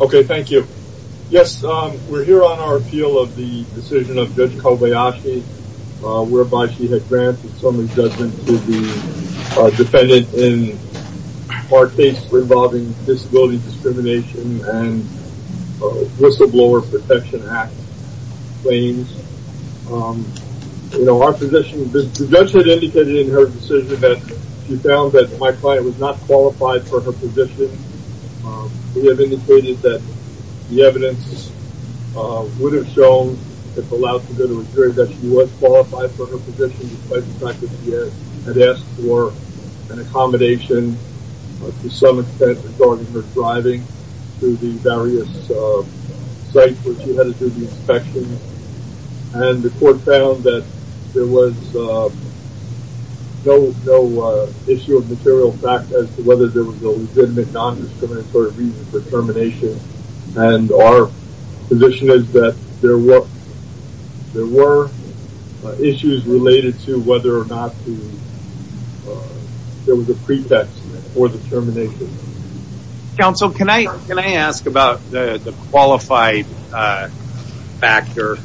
Okay, thank you. Yes, we're here on our appeal of the decision of Judge Kobayashi whereby she had granted some adjustment to the defendant in our case involving disability discrimination and Whistleblower Protection Act claims. You know, our position, the judge had indicated in her decision that she found that my client was not qualified for her position. We have indicated that the evidence would have shown, if allowed to do the return, that she was qualified for her position despite the fact that she had asked for an accommodation to some extent regarding her driving to the various sites where she had to do the material fact as to whether there was a legitimate non-discriminatory reason for termination and our position is that there were issues related to whether or not there was a pretext for the termination. Counsel, can I ask about the qualified factor?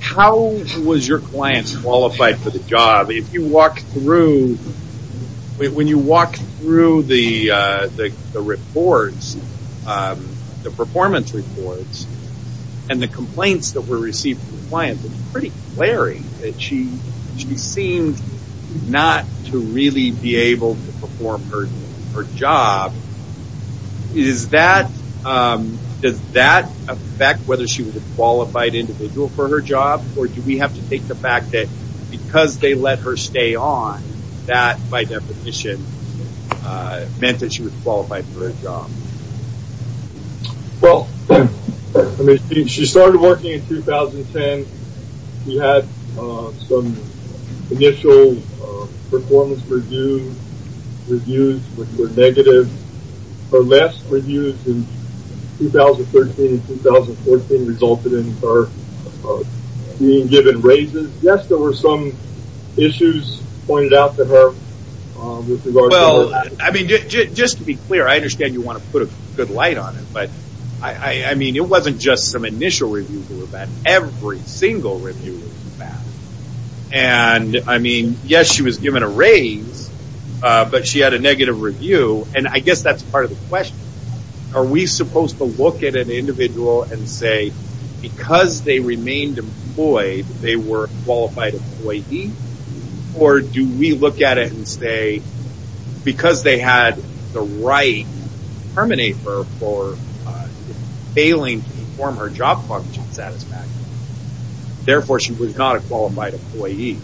How was your client qualified for the job? If you walk through, when you walk through the reports, the performance reports and the complaints that were received from clients, it's pretty glaring that she seemed not to really be able to perform her job. Does that affect whether she was a qualified individual for her job or do we have to take the fact that because they let her stay on, that by definition meant that she was qualified for her job? Well, I mean, she started working in 2010. We had some initial performance reviews which were negative. Her last given raises. Yes, there were some issues pointed out to her. Well, I mean, just to be clear, I understand you want to put a good light on it, but I mean, it wasn't just some initial reviews that were bad. Every single review was bad and I mean, yes, she was given a raise, but she had a negative review and I guess that's part of the question. Are we supposed to look at an individual and say because they remained employed, they were a qualified employee or do we look at it and say because they had the right to terminate her for failing to perform her job function satisfactorily. Therefore, she was not a qualified employee.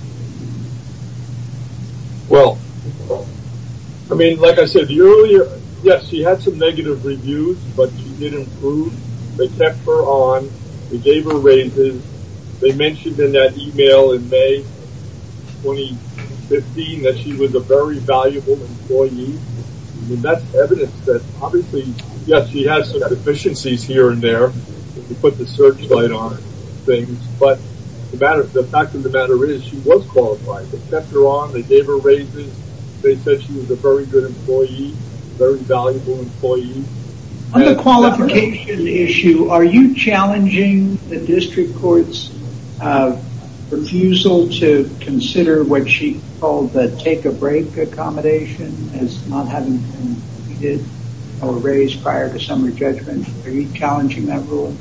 Well, I mean, like I said earlier, yes, she had some negative reviews, but she did improve. They kept her on. They gave her raises. They mentioned in that email in May 2015 that she was a very valuable employee. I mean, that's evidence that obviously, yes, she has some deficiencies here and there. You put the searchlight on things, but the fact of the matter is she was qualified. They kept her on. They gave her raises. They said she was a very good employee, very valuable employee. On the qualification issue, are you challenging the district court's refusal to consider what she called the take a break accommodation as not having been completed or raised prior to summary judgment? Are you challenging that rule?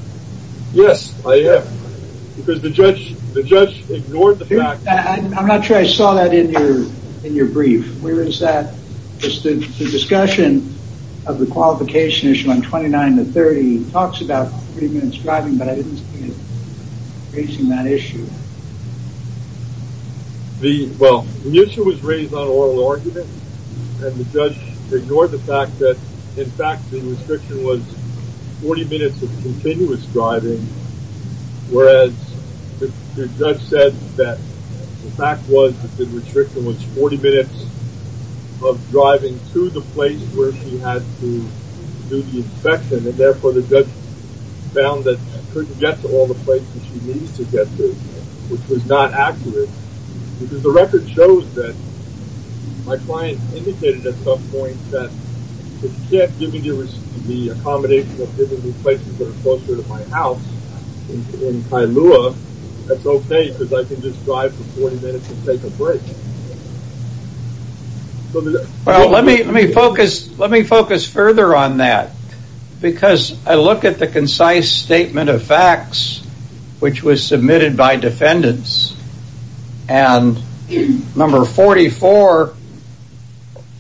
Yes, I am because the judge ignored the fact. I'm not sure I saw that in your brief. Where is that? The discussion of the qualification issue on 29 to 30 talks about three minutes driving, but I didn't see it raising that issue. Well, the issue was raised on oral argument and the judge ignored the fact that, in fact, the restriction was 40 minutes of continuous driving, whereas the judge said that the fact was that the she had to do the inspection, and therefore the judge found that she couldn't get to all the places she needed to get to, which was not accurate, because the record shows that my client indicated at some point that if you can't give me the accommodation of giving me places that are closer to my house in Kailua, that's okay because I can just drive for 40 minutes and take a break. Well, let me focus further on that, because I look at the concise statement of facts, which was submitted by defendants, and number 44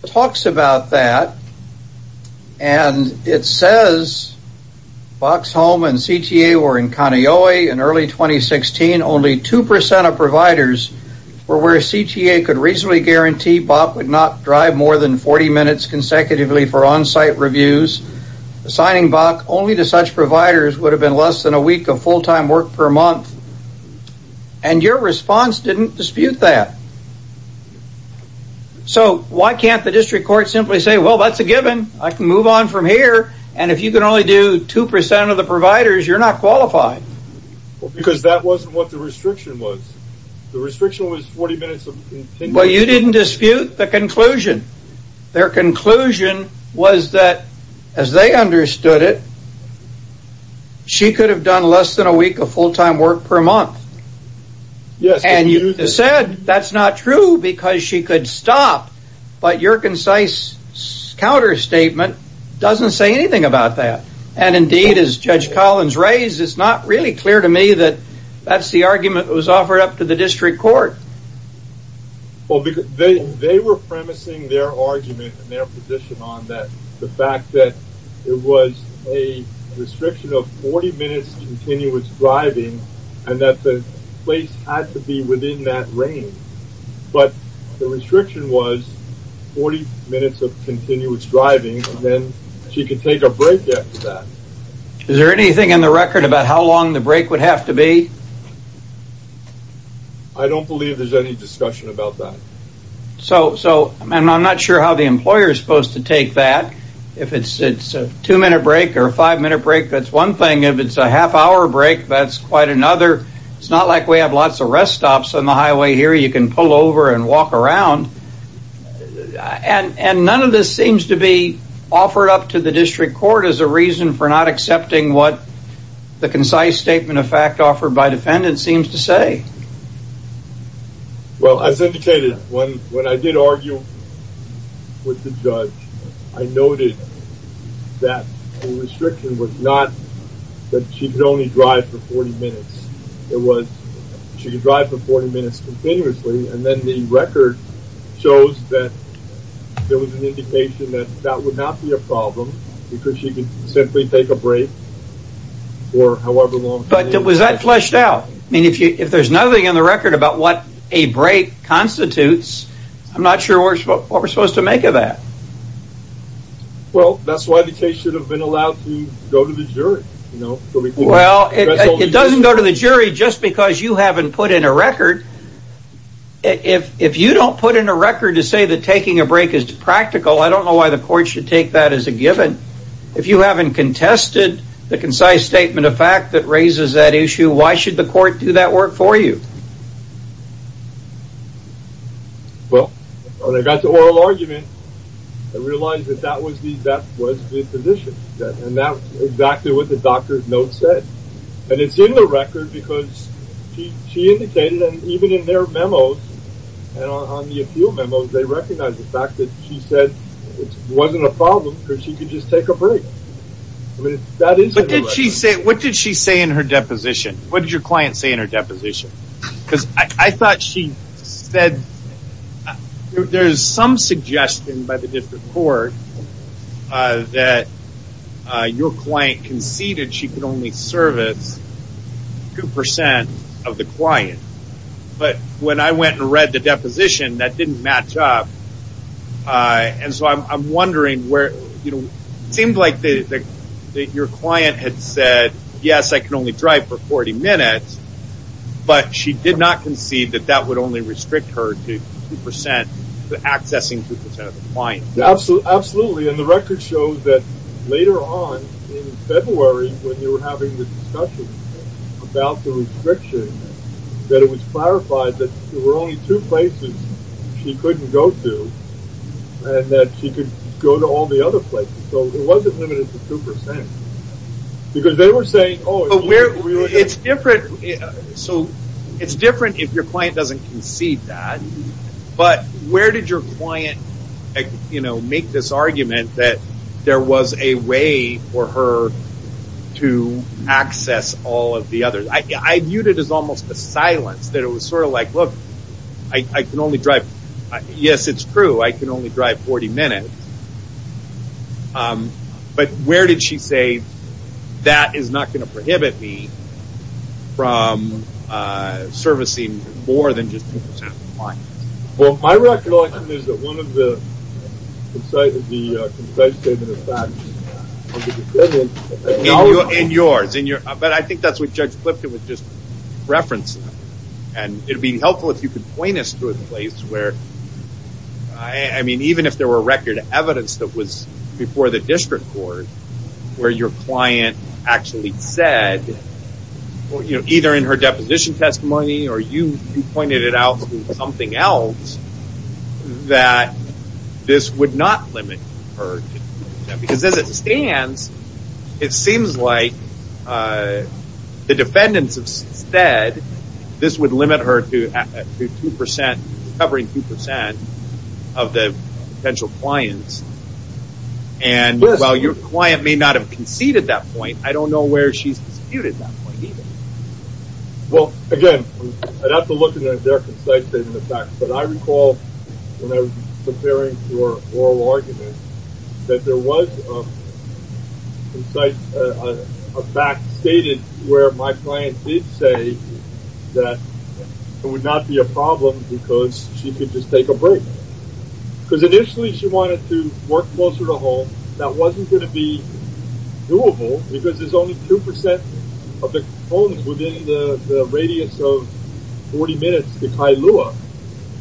talks about that, and it says Bach's home and CTA were in Kaneohe in early 2016. Only 2% of providers were where CTA could reasonably guarantee Bach would not drive more than 40 minutes consecutively for on-site reviews. Assigning Bach only to such providers would have been less than a week of full-time work per month, and your response didn't dispute that. So why can't the district court simply say, well, that's a given. I can move on from here, and if you can only do 2% of the providers, you're not qualified. Because that wasn't what the restriction was. The restriction was 40 minutes of... Well, you didn't dispute the conclusion. Their conclusion was that, as they understood it, she could have done less than a week of full-time work per month. Yes. And you said that's not true because she could stop, but your concise counterstatement doesn't say anything about that, and indeed, as Judge Collins raised, it's not really clear to me that that's the argument that was offered up to the district court. Well, they were premising their argument and their position on that, the fact that it was a restriction of 40 minutes continuous driving, and that the place had to be within that range. But the restriction was 40 minutes of continuous driving, and then she could take a break after that. Is there anything in the break would have to be? I don't believe there's any discussion about that. So, I'm not sure how the employer is supposed to take that. If it's a two-minute break or a five-minute break, that's one thing. If it's a half-hour break, that's quite another. It's not like we have lots of rest stops on the highway here. You can pull over and walk around, and none of this seems to be offered up to the district court. Well, as indicated, when I did argue with the judge, I noted that the restriction was not that she could only drive for 40 minutes. It was she could drive for 40 minutes continuously, and then the record shows that there was an indication that that would not be a problem, because she could simply take a break. But was that fleshed out? If there's nothing in the record about what a break constitutes, I'm not sure what we're supposed to make of that. Well, that's why the case should have been allowed to go to the jury. Well, it doesn't go to the jury just because you haven't put in a record. If you don't put in a record to say that taking a break is practical, I don't know why the court should take that as a given. If you haven't contested the concise statement of fact that raises that issue, why should the court do that work for you? Well, when I got to oral argument, I realized that that was the position, and that was exactly what the doctor's note said. And it's in the record because she indicated, and even in their memos, and on the appeal memos, they recognize the fact that she said it or she could just take a break. What did she say in her deposition? What did your client say in her deposition? Because I thought she said, there's some suggestion by the district court that your client conceded she could only service 2% of the client. But when I went and read the deposition, that didn't match up. And so I'm wondering where, you know, it seemed like that your client had said, yes, I can only drive for 40 minutes, but she did not concede that that would only restrict her to 2%, to accessing 2% of the client. Absolutely, and the record shows that later on in February, when they were having the discussion about the restriction, that it was clarified that there were only two places she couldn't go to, and that she could go to all the other places. So it wasn't limited to 2%. Because they were saying, oh, it's different, so it's different if your client doesn't concede that. But where did your client, you know, make this argument that there was a way for her to access all of the others? I can only drive, yes, it's true, I can only drive 40 minutes. But where did she say that is not going to prohibit me from servicing more than just 2% of the client? Well, my recollection is that one of the concise statements of facts of the deposition... In yours, but I think that's what Judge Clifton was just referencing. And it would be helpful if you could point us to a place where, I mean, even if there were record evidence that was before the district court, where your client actually said, either in her deposition testimony, or you pointed it out through something else, that this would not limit her. Because as it stands, it seems like the defendants instead, this would limit her to 2%, covering 2% of the potential clients. And while your client may not have conceded that point, I don't know where she's disputed that point either. Well, again, I'd have to look at their concise statement of facts. But I recall when I was preparing for oral argument, that there was a fact stated where my client did say that it would not be a problem because she could just take a break. Because initially she wanted to work closer to home. That wasn't going to be doable because there's only 2% of the homes within the radius of 40 minutes to Kailua.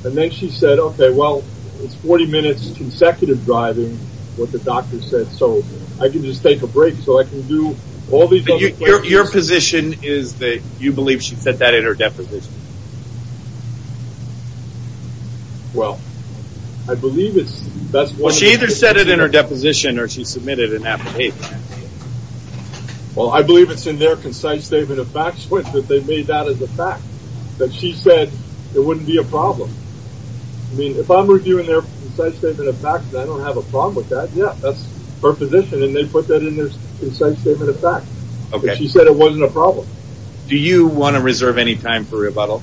And then she said, okay, well, it's 40 minutes consecutive driving, what the doctor said, so I can just take a break. So I can do all these other questions. But your position is that you believe she said that in her deposition? Well, I believe it's, that's one of the... Well, she either said it in her deposition or she submitted an application. Well, I believe it's in their concise statement of facts, which is that they made that as a fact, that she said it wouldn't be a problem. I mean, if I'm reviewing their concise statement of facts, I don't have a problem with that. Yeah, that's her position. And they put that in their concise statement of facts. She said it wasn't a problem. Do you want to reserve any time for rebuttal?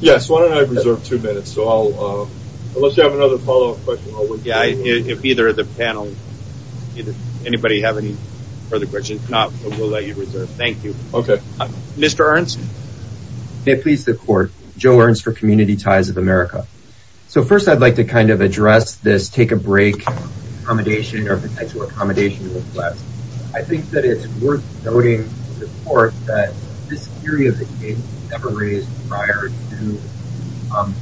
Yes, why don't I reserve two minutes? So I'll, unless you have another follow-up question. Yeah, if either of the panel, anybody have any further questions? No, we'll let you reserve. Thank you. Okay. Mr. Ernst? May it please the court, Joe Ernst for Community Ties of America. So first, I'd like to kind of address this take a break accommodation or potential accommodation request. I think that it's worth noting to the court that this theory of the king was never raised prior to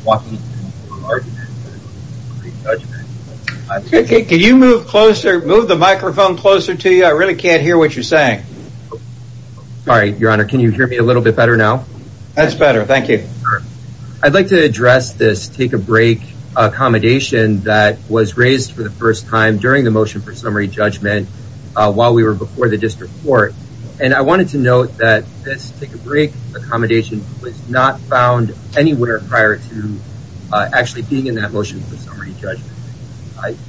Joaquin's argument in the Supreme Court's judgment. Can you move closer, move the microphone closer to you? I really can't hear what you're saying. Sorry, Your Honor, can you hear me a little bit better now? That's great. I'd like to address this take a break accommodation that was raised for the first time during the motion for summary judgment while we were before the district court. And I wanted to note that this take a break accommodation was not found anywhere prior to actually being in that motion for summary judgment.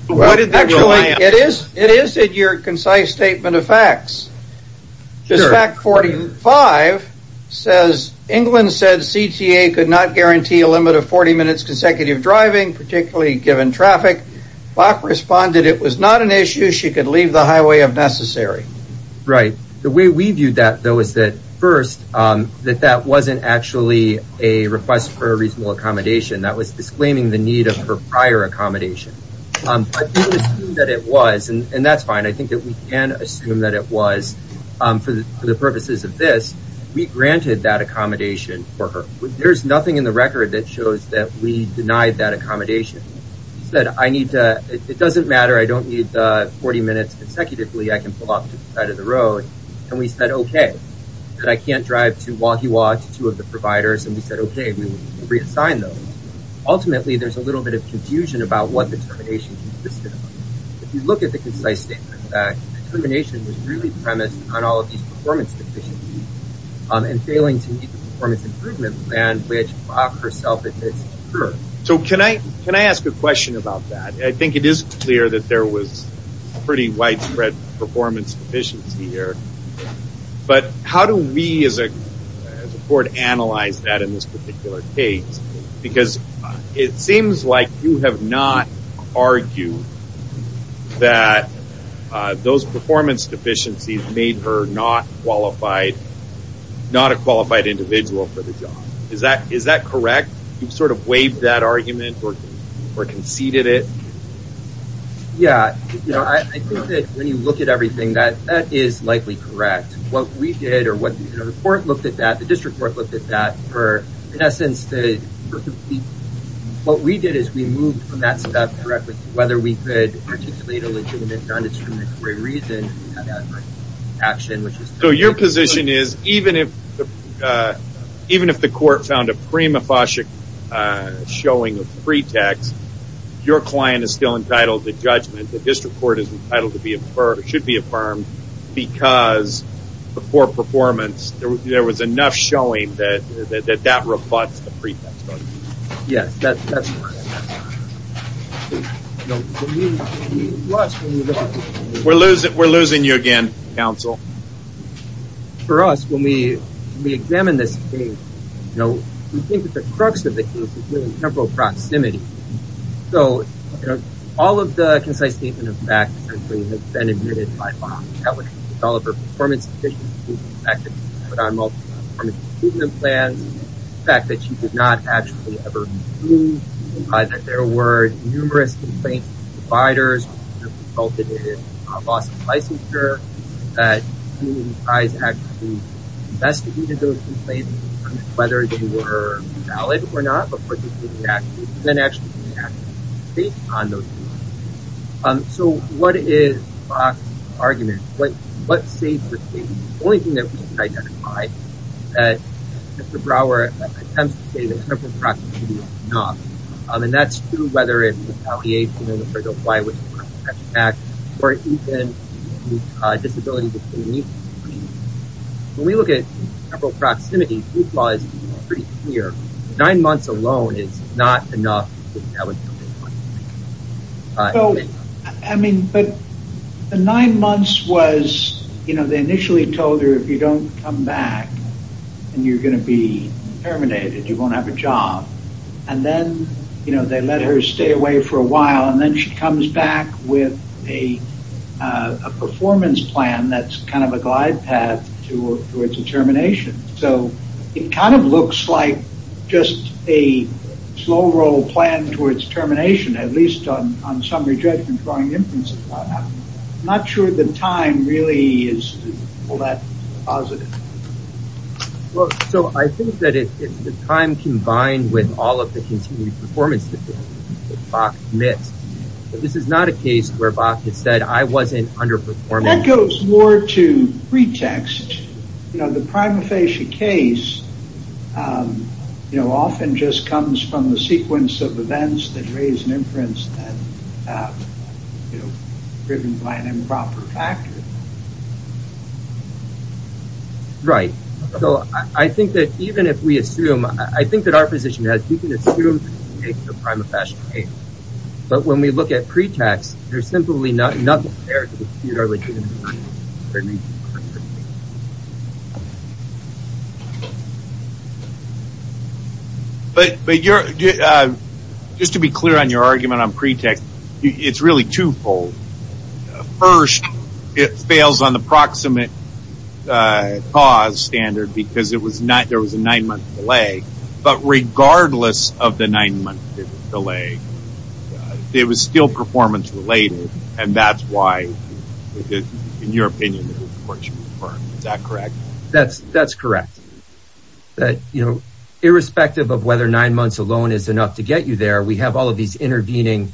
It is, it is in your concise statement of facts. Just fact 45 says England said CTA could not guarantee a limit of 40 minutes consecutive driving, particularly given traffic. Bach responded it was not an issue. She could leave the highway if necessary. Right. The way we viewed that though is that first, that that wasn't actually a request for a reasonable accommodation. That was disclaiming the need of her prior accommodation. That it was and that's fine. I think that we can assume that it was for the purposes of this. We granted that accommodation for her. There's nothing in the record that shows that we denied that accommodation. Said I need to, it doesn't matter, I don't need 40 minutes consecutively. I can pull off to the side of the road. And we said okay. That I can't drive to Wahiawa to two of the providers. And we said okay, we reassign those. Ultimately there's a little bit of confusion about what the termination consisted of. If you look at the concise statement of facts, the termination was really premised on all of these performance deficiencies. And failing to meet the performance improvement plan which Bach herself admits to her. So can I, can I ask a question about that? I think it is clear that there was pretty widespread performance deficiency here. But how do we as a court analyze that in this particular case? Because it seems like you have not argued that those performance deficiencies made her not qualified, not a qualified individual for the job. Is that, is that correct? You've sort of waived that argument or conceded it? Yeah, you know, I think that when you look at everything that that is likely correct. What we did or what the court looked at that, the district court looked at that for, in essence, what we did is we moved from that step whether we could articulate a legitimate non-discriminatory reason. So your position is even if, even if the court found a prima facie showing of pretext, your client is still entitled to judgment. The district court is entitled to be affirmed, should be affirmed because the poor performance, there was enough showing that that rebuts the pretext. Yes. We're losing, we're losing you again, counsel. For us, when we examine this case, you know, we think that the crux of the case is temporal proximity. So, you know, all of the concise statement of treatment plans, the fact that she did not actually ever move, that there were numerous complaints from providers that resulted in a loss of licensure, that you guys actually investigated those complaints, whether they were valid or not, but then actually reacted based on those complaints. So what is Fox's argument? What, what saved the case? The only thing that we can say is that Mr. Brower attempts to say that temporal proximity is enough, and that's true whether it's retaliation or the Federal Fly-With-The-Cross-Text Act, or even disability between youths. I mean, when we look at temporal proximity, youth law is pretty clear. Nine months alone is not enough. I mean, but the nine months was, you know, they initially told her if you don't come back, and you're going to be terminated, you won't have a job. And then, you know, they let her stay away for a while. And then she comes back with a performance plan that's kind of a glide path towards a termination. So it kind of looks like just a slow roll plan towards termination, at least on summary judgment, drawing inferences about that. I'm not sure the time really is all that positive. Well, so I think that it's the time combined with all of the continued performance that Bok missed. This is not a case where Bok has said, I wasn't underperforming. And that goes more to pretext. You know, the prima facie case, you know, often just comes from the sequence of events that raise an inference that, you know, driven by an improper factor. Right. So I think that even if we assume, I think that our position is we can assume the case of the prima facie case. But when we look at pretext, there's simply nothing there to dispute our legitimacy. But just to be clear on your argument on pretext, it's really twofold. First, it fails on the proximate pause standard because there was a nine month delay. But regardless of the nine month delay, it was still performance related. And that's why, in your opinion, is that correct? That's correct. That, you know, irrespective of whether nine months alone is enough to get you there, we have all of these intervening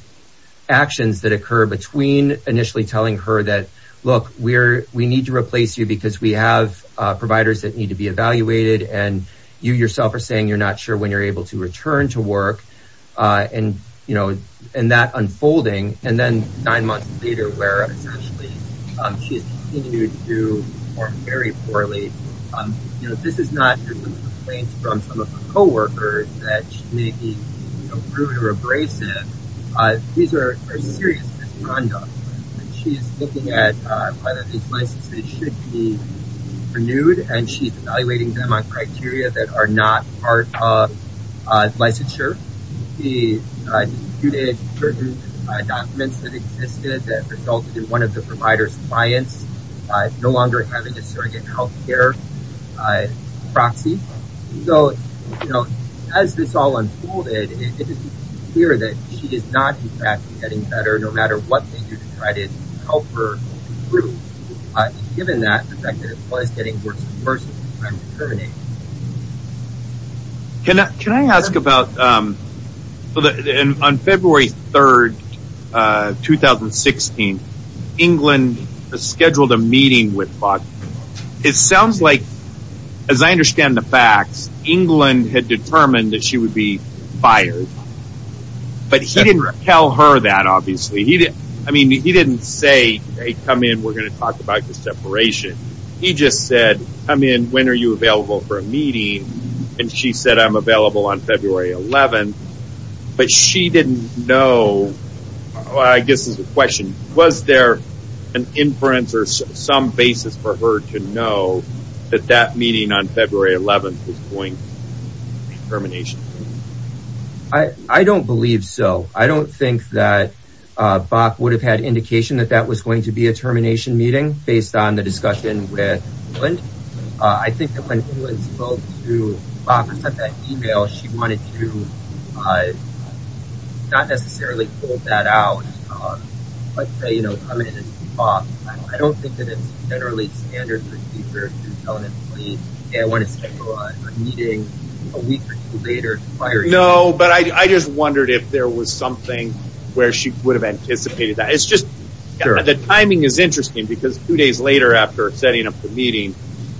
actions that occur between initially telling her that, look, we need to replace you because we have providers that need to be evaluated. And you yourself are saying you're not sure when you're able to return to work. And, you know, and that unfolding. And then nine months later, where essentially she has continued to perform very poorly. You know, this is not complaints from some of the co-workers that she may be rude or abrasive. These are serious misconduct. She is looking at whether these licenses should be renewed. And she's evaluating them on criteria that are not part of licensure. And then, you know, she disputed certain documents that existed that resulted in one of the provider's clients no longer having a surrogate health care proxy. So, you know, as this all unfolded, it is clear that she is not, in fact, getting better no matter what they do to try to help her improve. But given that, the fact that it was getting worse and worse, it's time to terminate. He just said, I mean, when are you available for a meeting? And she said, I'm available on February 11th. But she didn't know. I guess this is a question. Was there an inference or some basis for her to know that that meeting on February 11th was going to be termination? I don't believe so. I don't think that Bach would have had indication that that was going to be a termination meeting based on the discussion with Lind. I think that when Lind spoke to Bach or sent that email, she wanted to not necessarily pull that out, but say, you know, come in and talk. I don't think that it's generally standard for a speaker to tell an employee, hey, I want to schedule a meeting a week or two later. No, but I just wondered if there was something where she would have anticipated that. It's just the timing is interesting because two days later after setting up the meeting,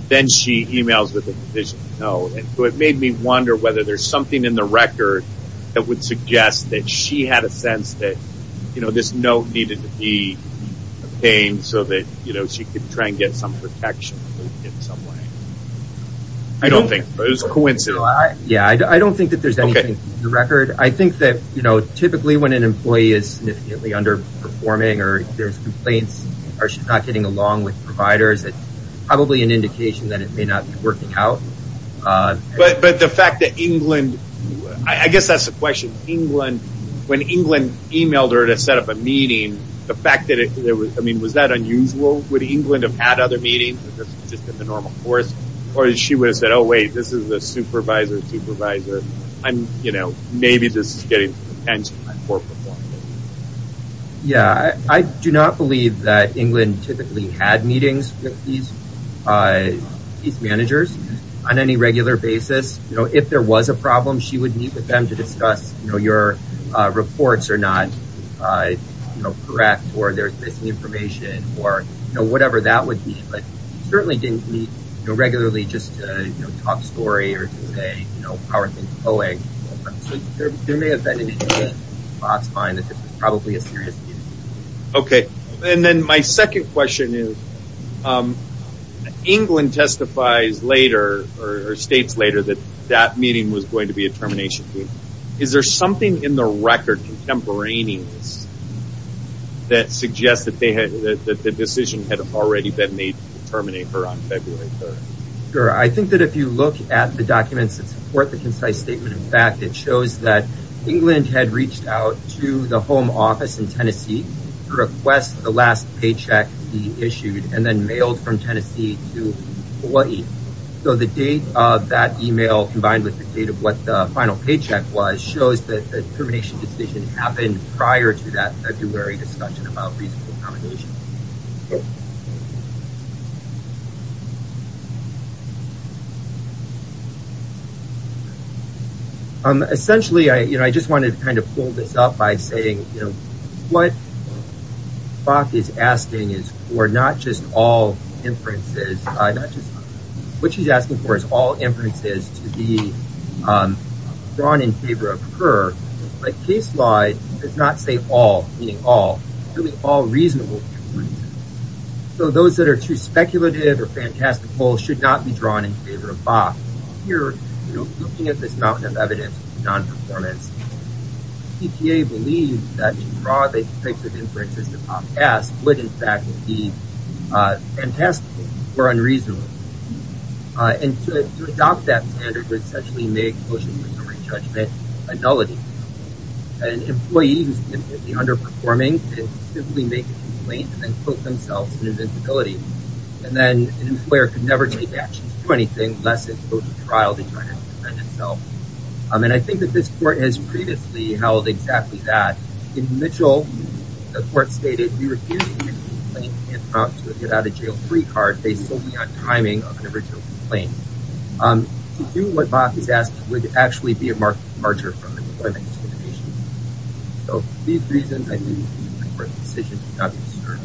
then she emails with a decision. So it made me wonder whether there's something in the record that would suggest that she had a sense that, you know, this note needed to be obtained so that she could try and get some protection in some way. I don't think so. It was a coincidence. Yeah, I don't think that there's anything in the record. I think that, you know, typically when an employee is significantly underperforming or there's complaints or she's not getting along with providers, it's probably an indication that it may not be working out. But the fact that England, I guess that's the question, England, when England emailed her to set up a meeting, the fact that there was, I mean, was that unusual? Would England have had other meetings just in the normal course? Or she would have said, oh, wait, this is a supervisor, supervisor. I'm, you know, maybe this is getting the attention of my poor performance. Yeah, I do not believe that England typically had meetings with these managers on any regular basis. You know, if there was a problem, she would meet with them to discuss, you know, your reports are not correct or there's missing information or, you know, whatever that would be. But certainly didn't meet regularly just to talk story or to say, you know, how are things going. There may have been. Okay. And then my second question is, England testifies later or states later that that meeting was going to be a termination. Is there something in the record contemporaneous that suggests that the decision had already been made to terminate her on February 3rd? Sure. I think that if you look at the documents that support the concise statement, in fact, it shows that England had reached out to the home office in Tennessee to request the last paycheck be issued and then mailed from Tennessee to Hawaii. So the date of that email combined with the date of what the final paycheck was shows that the termination decision happened prior to that February discussion about reasonable accommodation. Essentially, I just wanted to kind of pull this up by saying, you know, what Bok is asking is for not just all inferences. What she's asking for is all inferences to be drawn in favor of her. But case law does not say all, meaning all, all reasonable inferences. So those that are too speculative or fantastical should not be drawn in favor of Bok. Here, looking at this amount of evidence of non-performance, EPA believes that to draw these types of inferences upon Bok would, in fact, be fantastical or unreasonable. And to adopt that standard would essentially make motion for summary judgment a nullity. An employee who's underperforming could simply make a complaint and then put themselves in an instability. And then an employer could never take action to do anything less than go to trial to try to defend himself. And I think that this court has previously held exactly that. In Mitchell, the court stated, you refuse to make a complaint and prompt to get out of jail a free card based solely on timing of an original complaint. To do what Bok is asking would actually be a martyr from the employment discrimination. So for these reasons, I think it would be an important decision to not discern.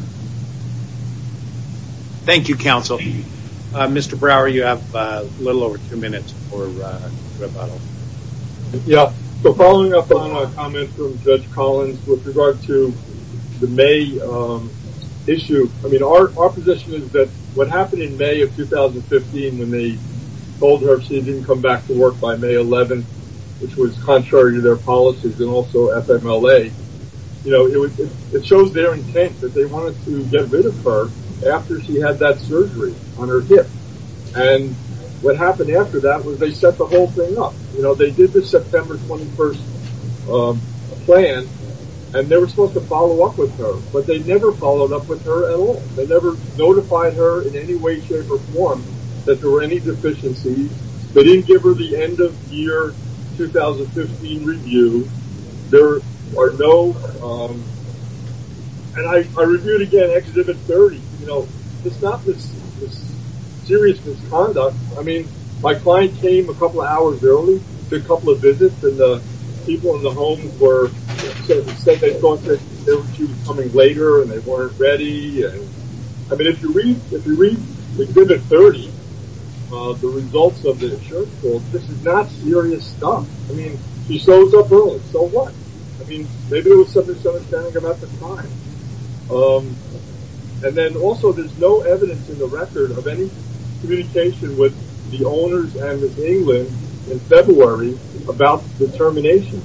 Thank you, counsel. Mr. Brower, you have a little over two minutes. Yeah. So following up on a comment from Judge Collins with regard to the May issue, I mean, our position is that what happened in May of 2015 when they told her she didn't come back to work by May 11th, which was contrary to their policies and also FMLA, you know, it shows their intent that they wanted to get rid of her after she had that surgery on her hip. And what happened after that was they set the whole thing up. You know, they did the September 21st plan and they were supposed to follow up with her, but they never followed up with her at all. They never notified her in any way, shape or form that there were any deficiencies. They didn't give her the end of year 2015 review. There are no, um, and I, I reviewed again, except if it's 30, you know, it's not this serious misconduct. I mean, my client came a couple of hours early, did a couple of visits and the people in the home were saying they thought she was coming later and they weren't ready. And I mean, if you read, if you read the 30, uh, the results of the insurance bill, this is not serious stuff. I mean, she shows up early, so what? I mean, maybe it was some misunderstanding about the time. Um, and then also there's no evidence in the record of any communication with the owners and with England in February about the termination.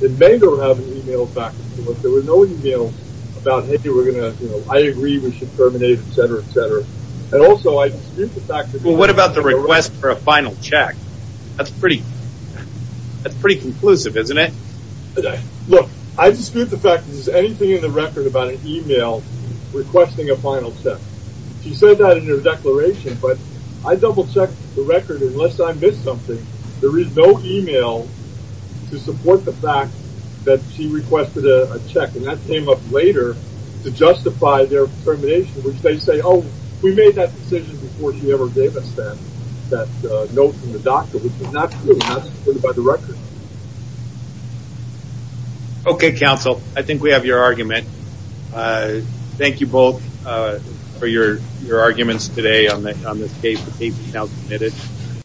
It may go, have an email back. There was no email about, Hey, we're going to, you know, I agree we should terminate, et cetera, et cetera. And also I dispute the fact that, well, what about the request for a final check? That's pretty, that's pretty conclusive, isn't it? Look, I dispute the fact that there's anything in the record about an email requesting a final check. She said that in her declaration, but I double checked the record. Unless I missed something, there is no email to support the fact that she requested a check. And that came up later to justify their termination, which they say, Oh, we made that decision before she ever gave us that, that note from the doctor, which is not true. That's supported by the record. Okay. Counsel, I think we have your argument. Uh, thank you both, uh, for your, your arguments today on this case.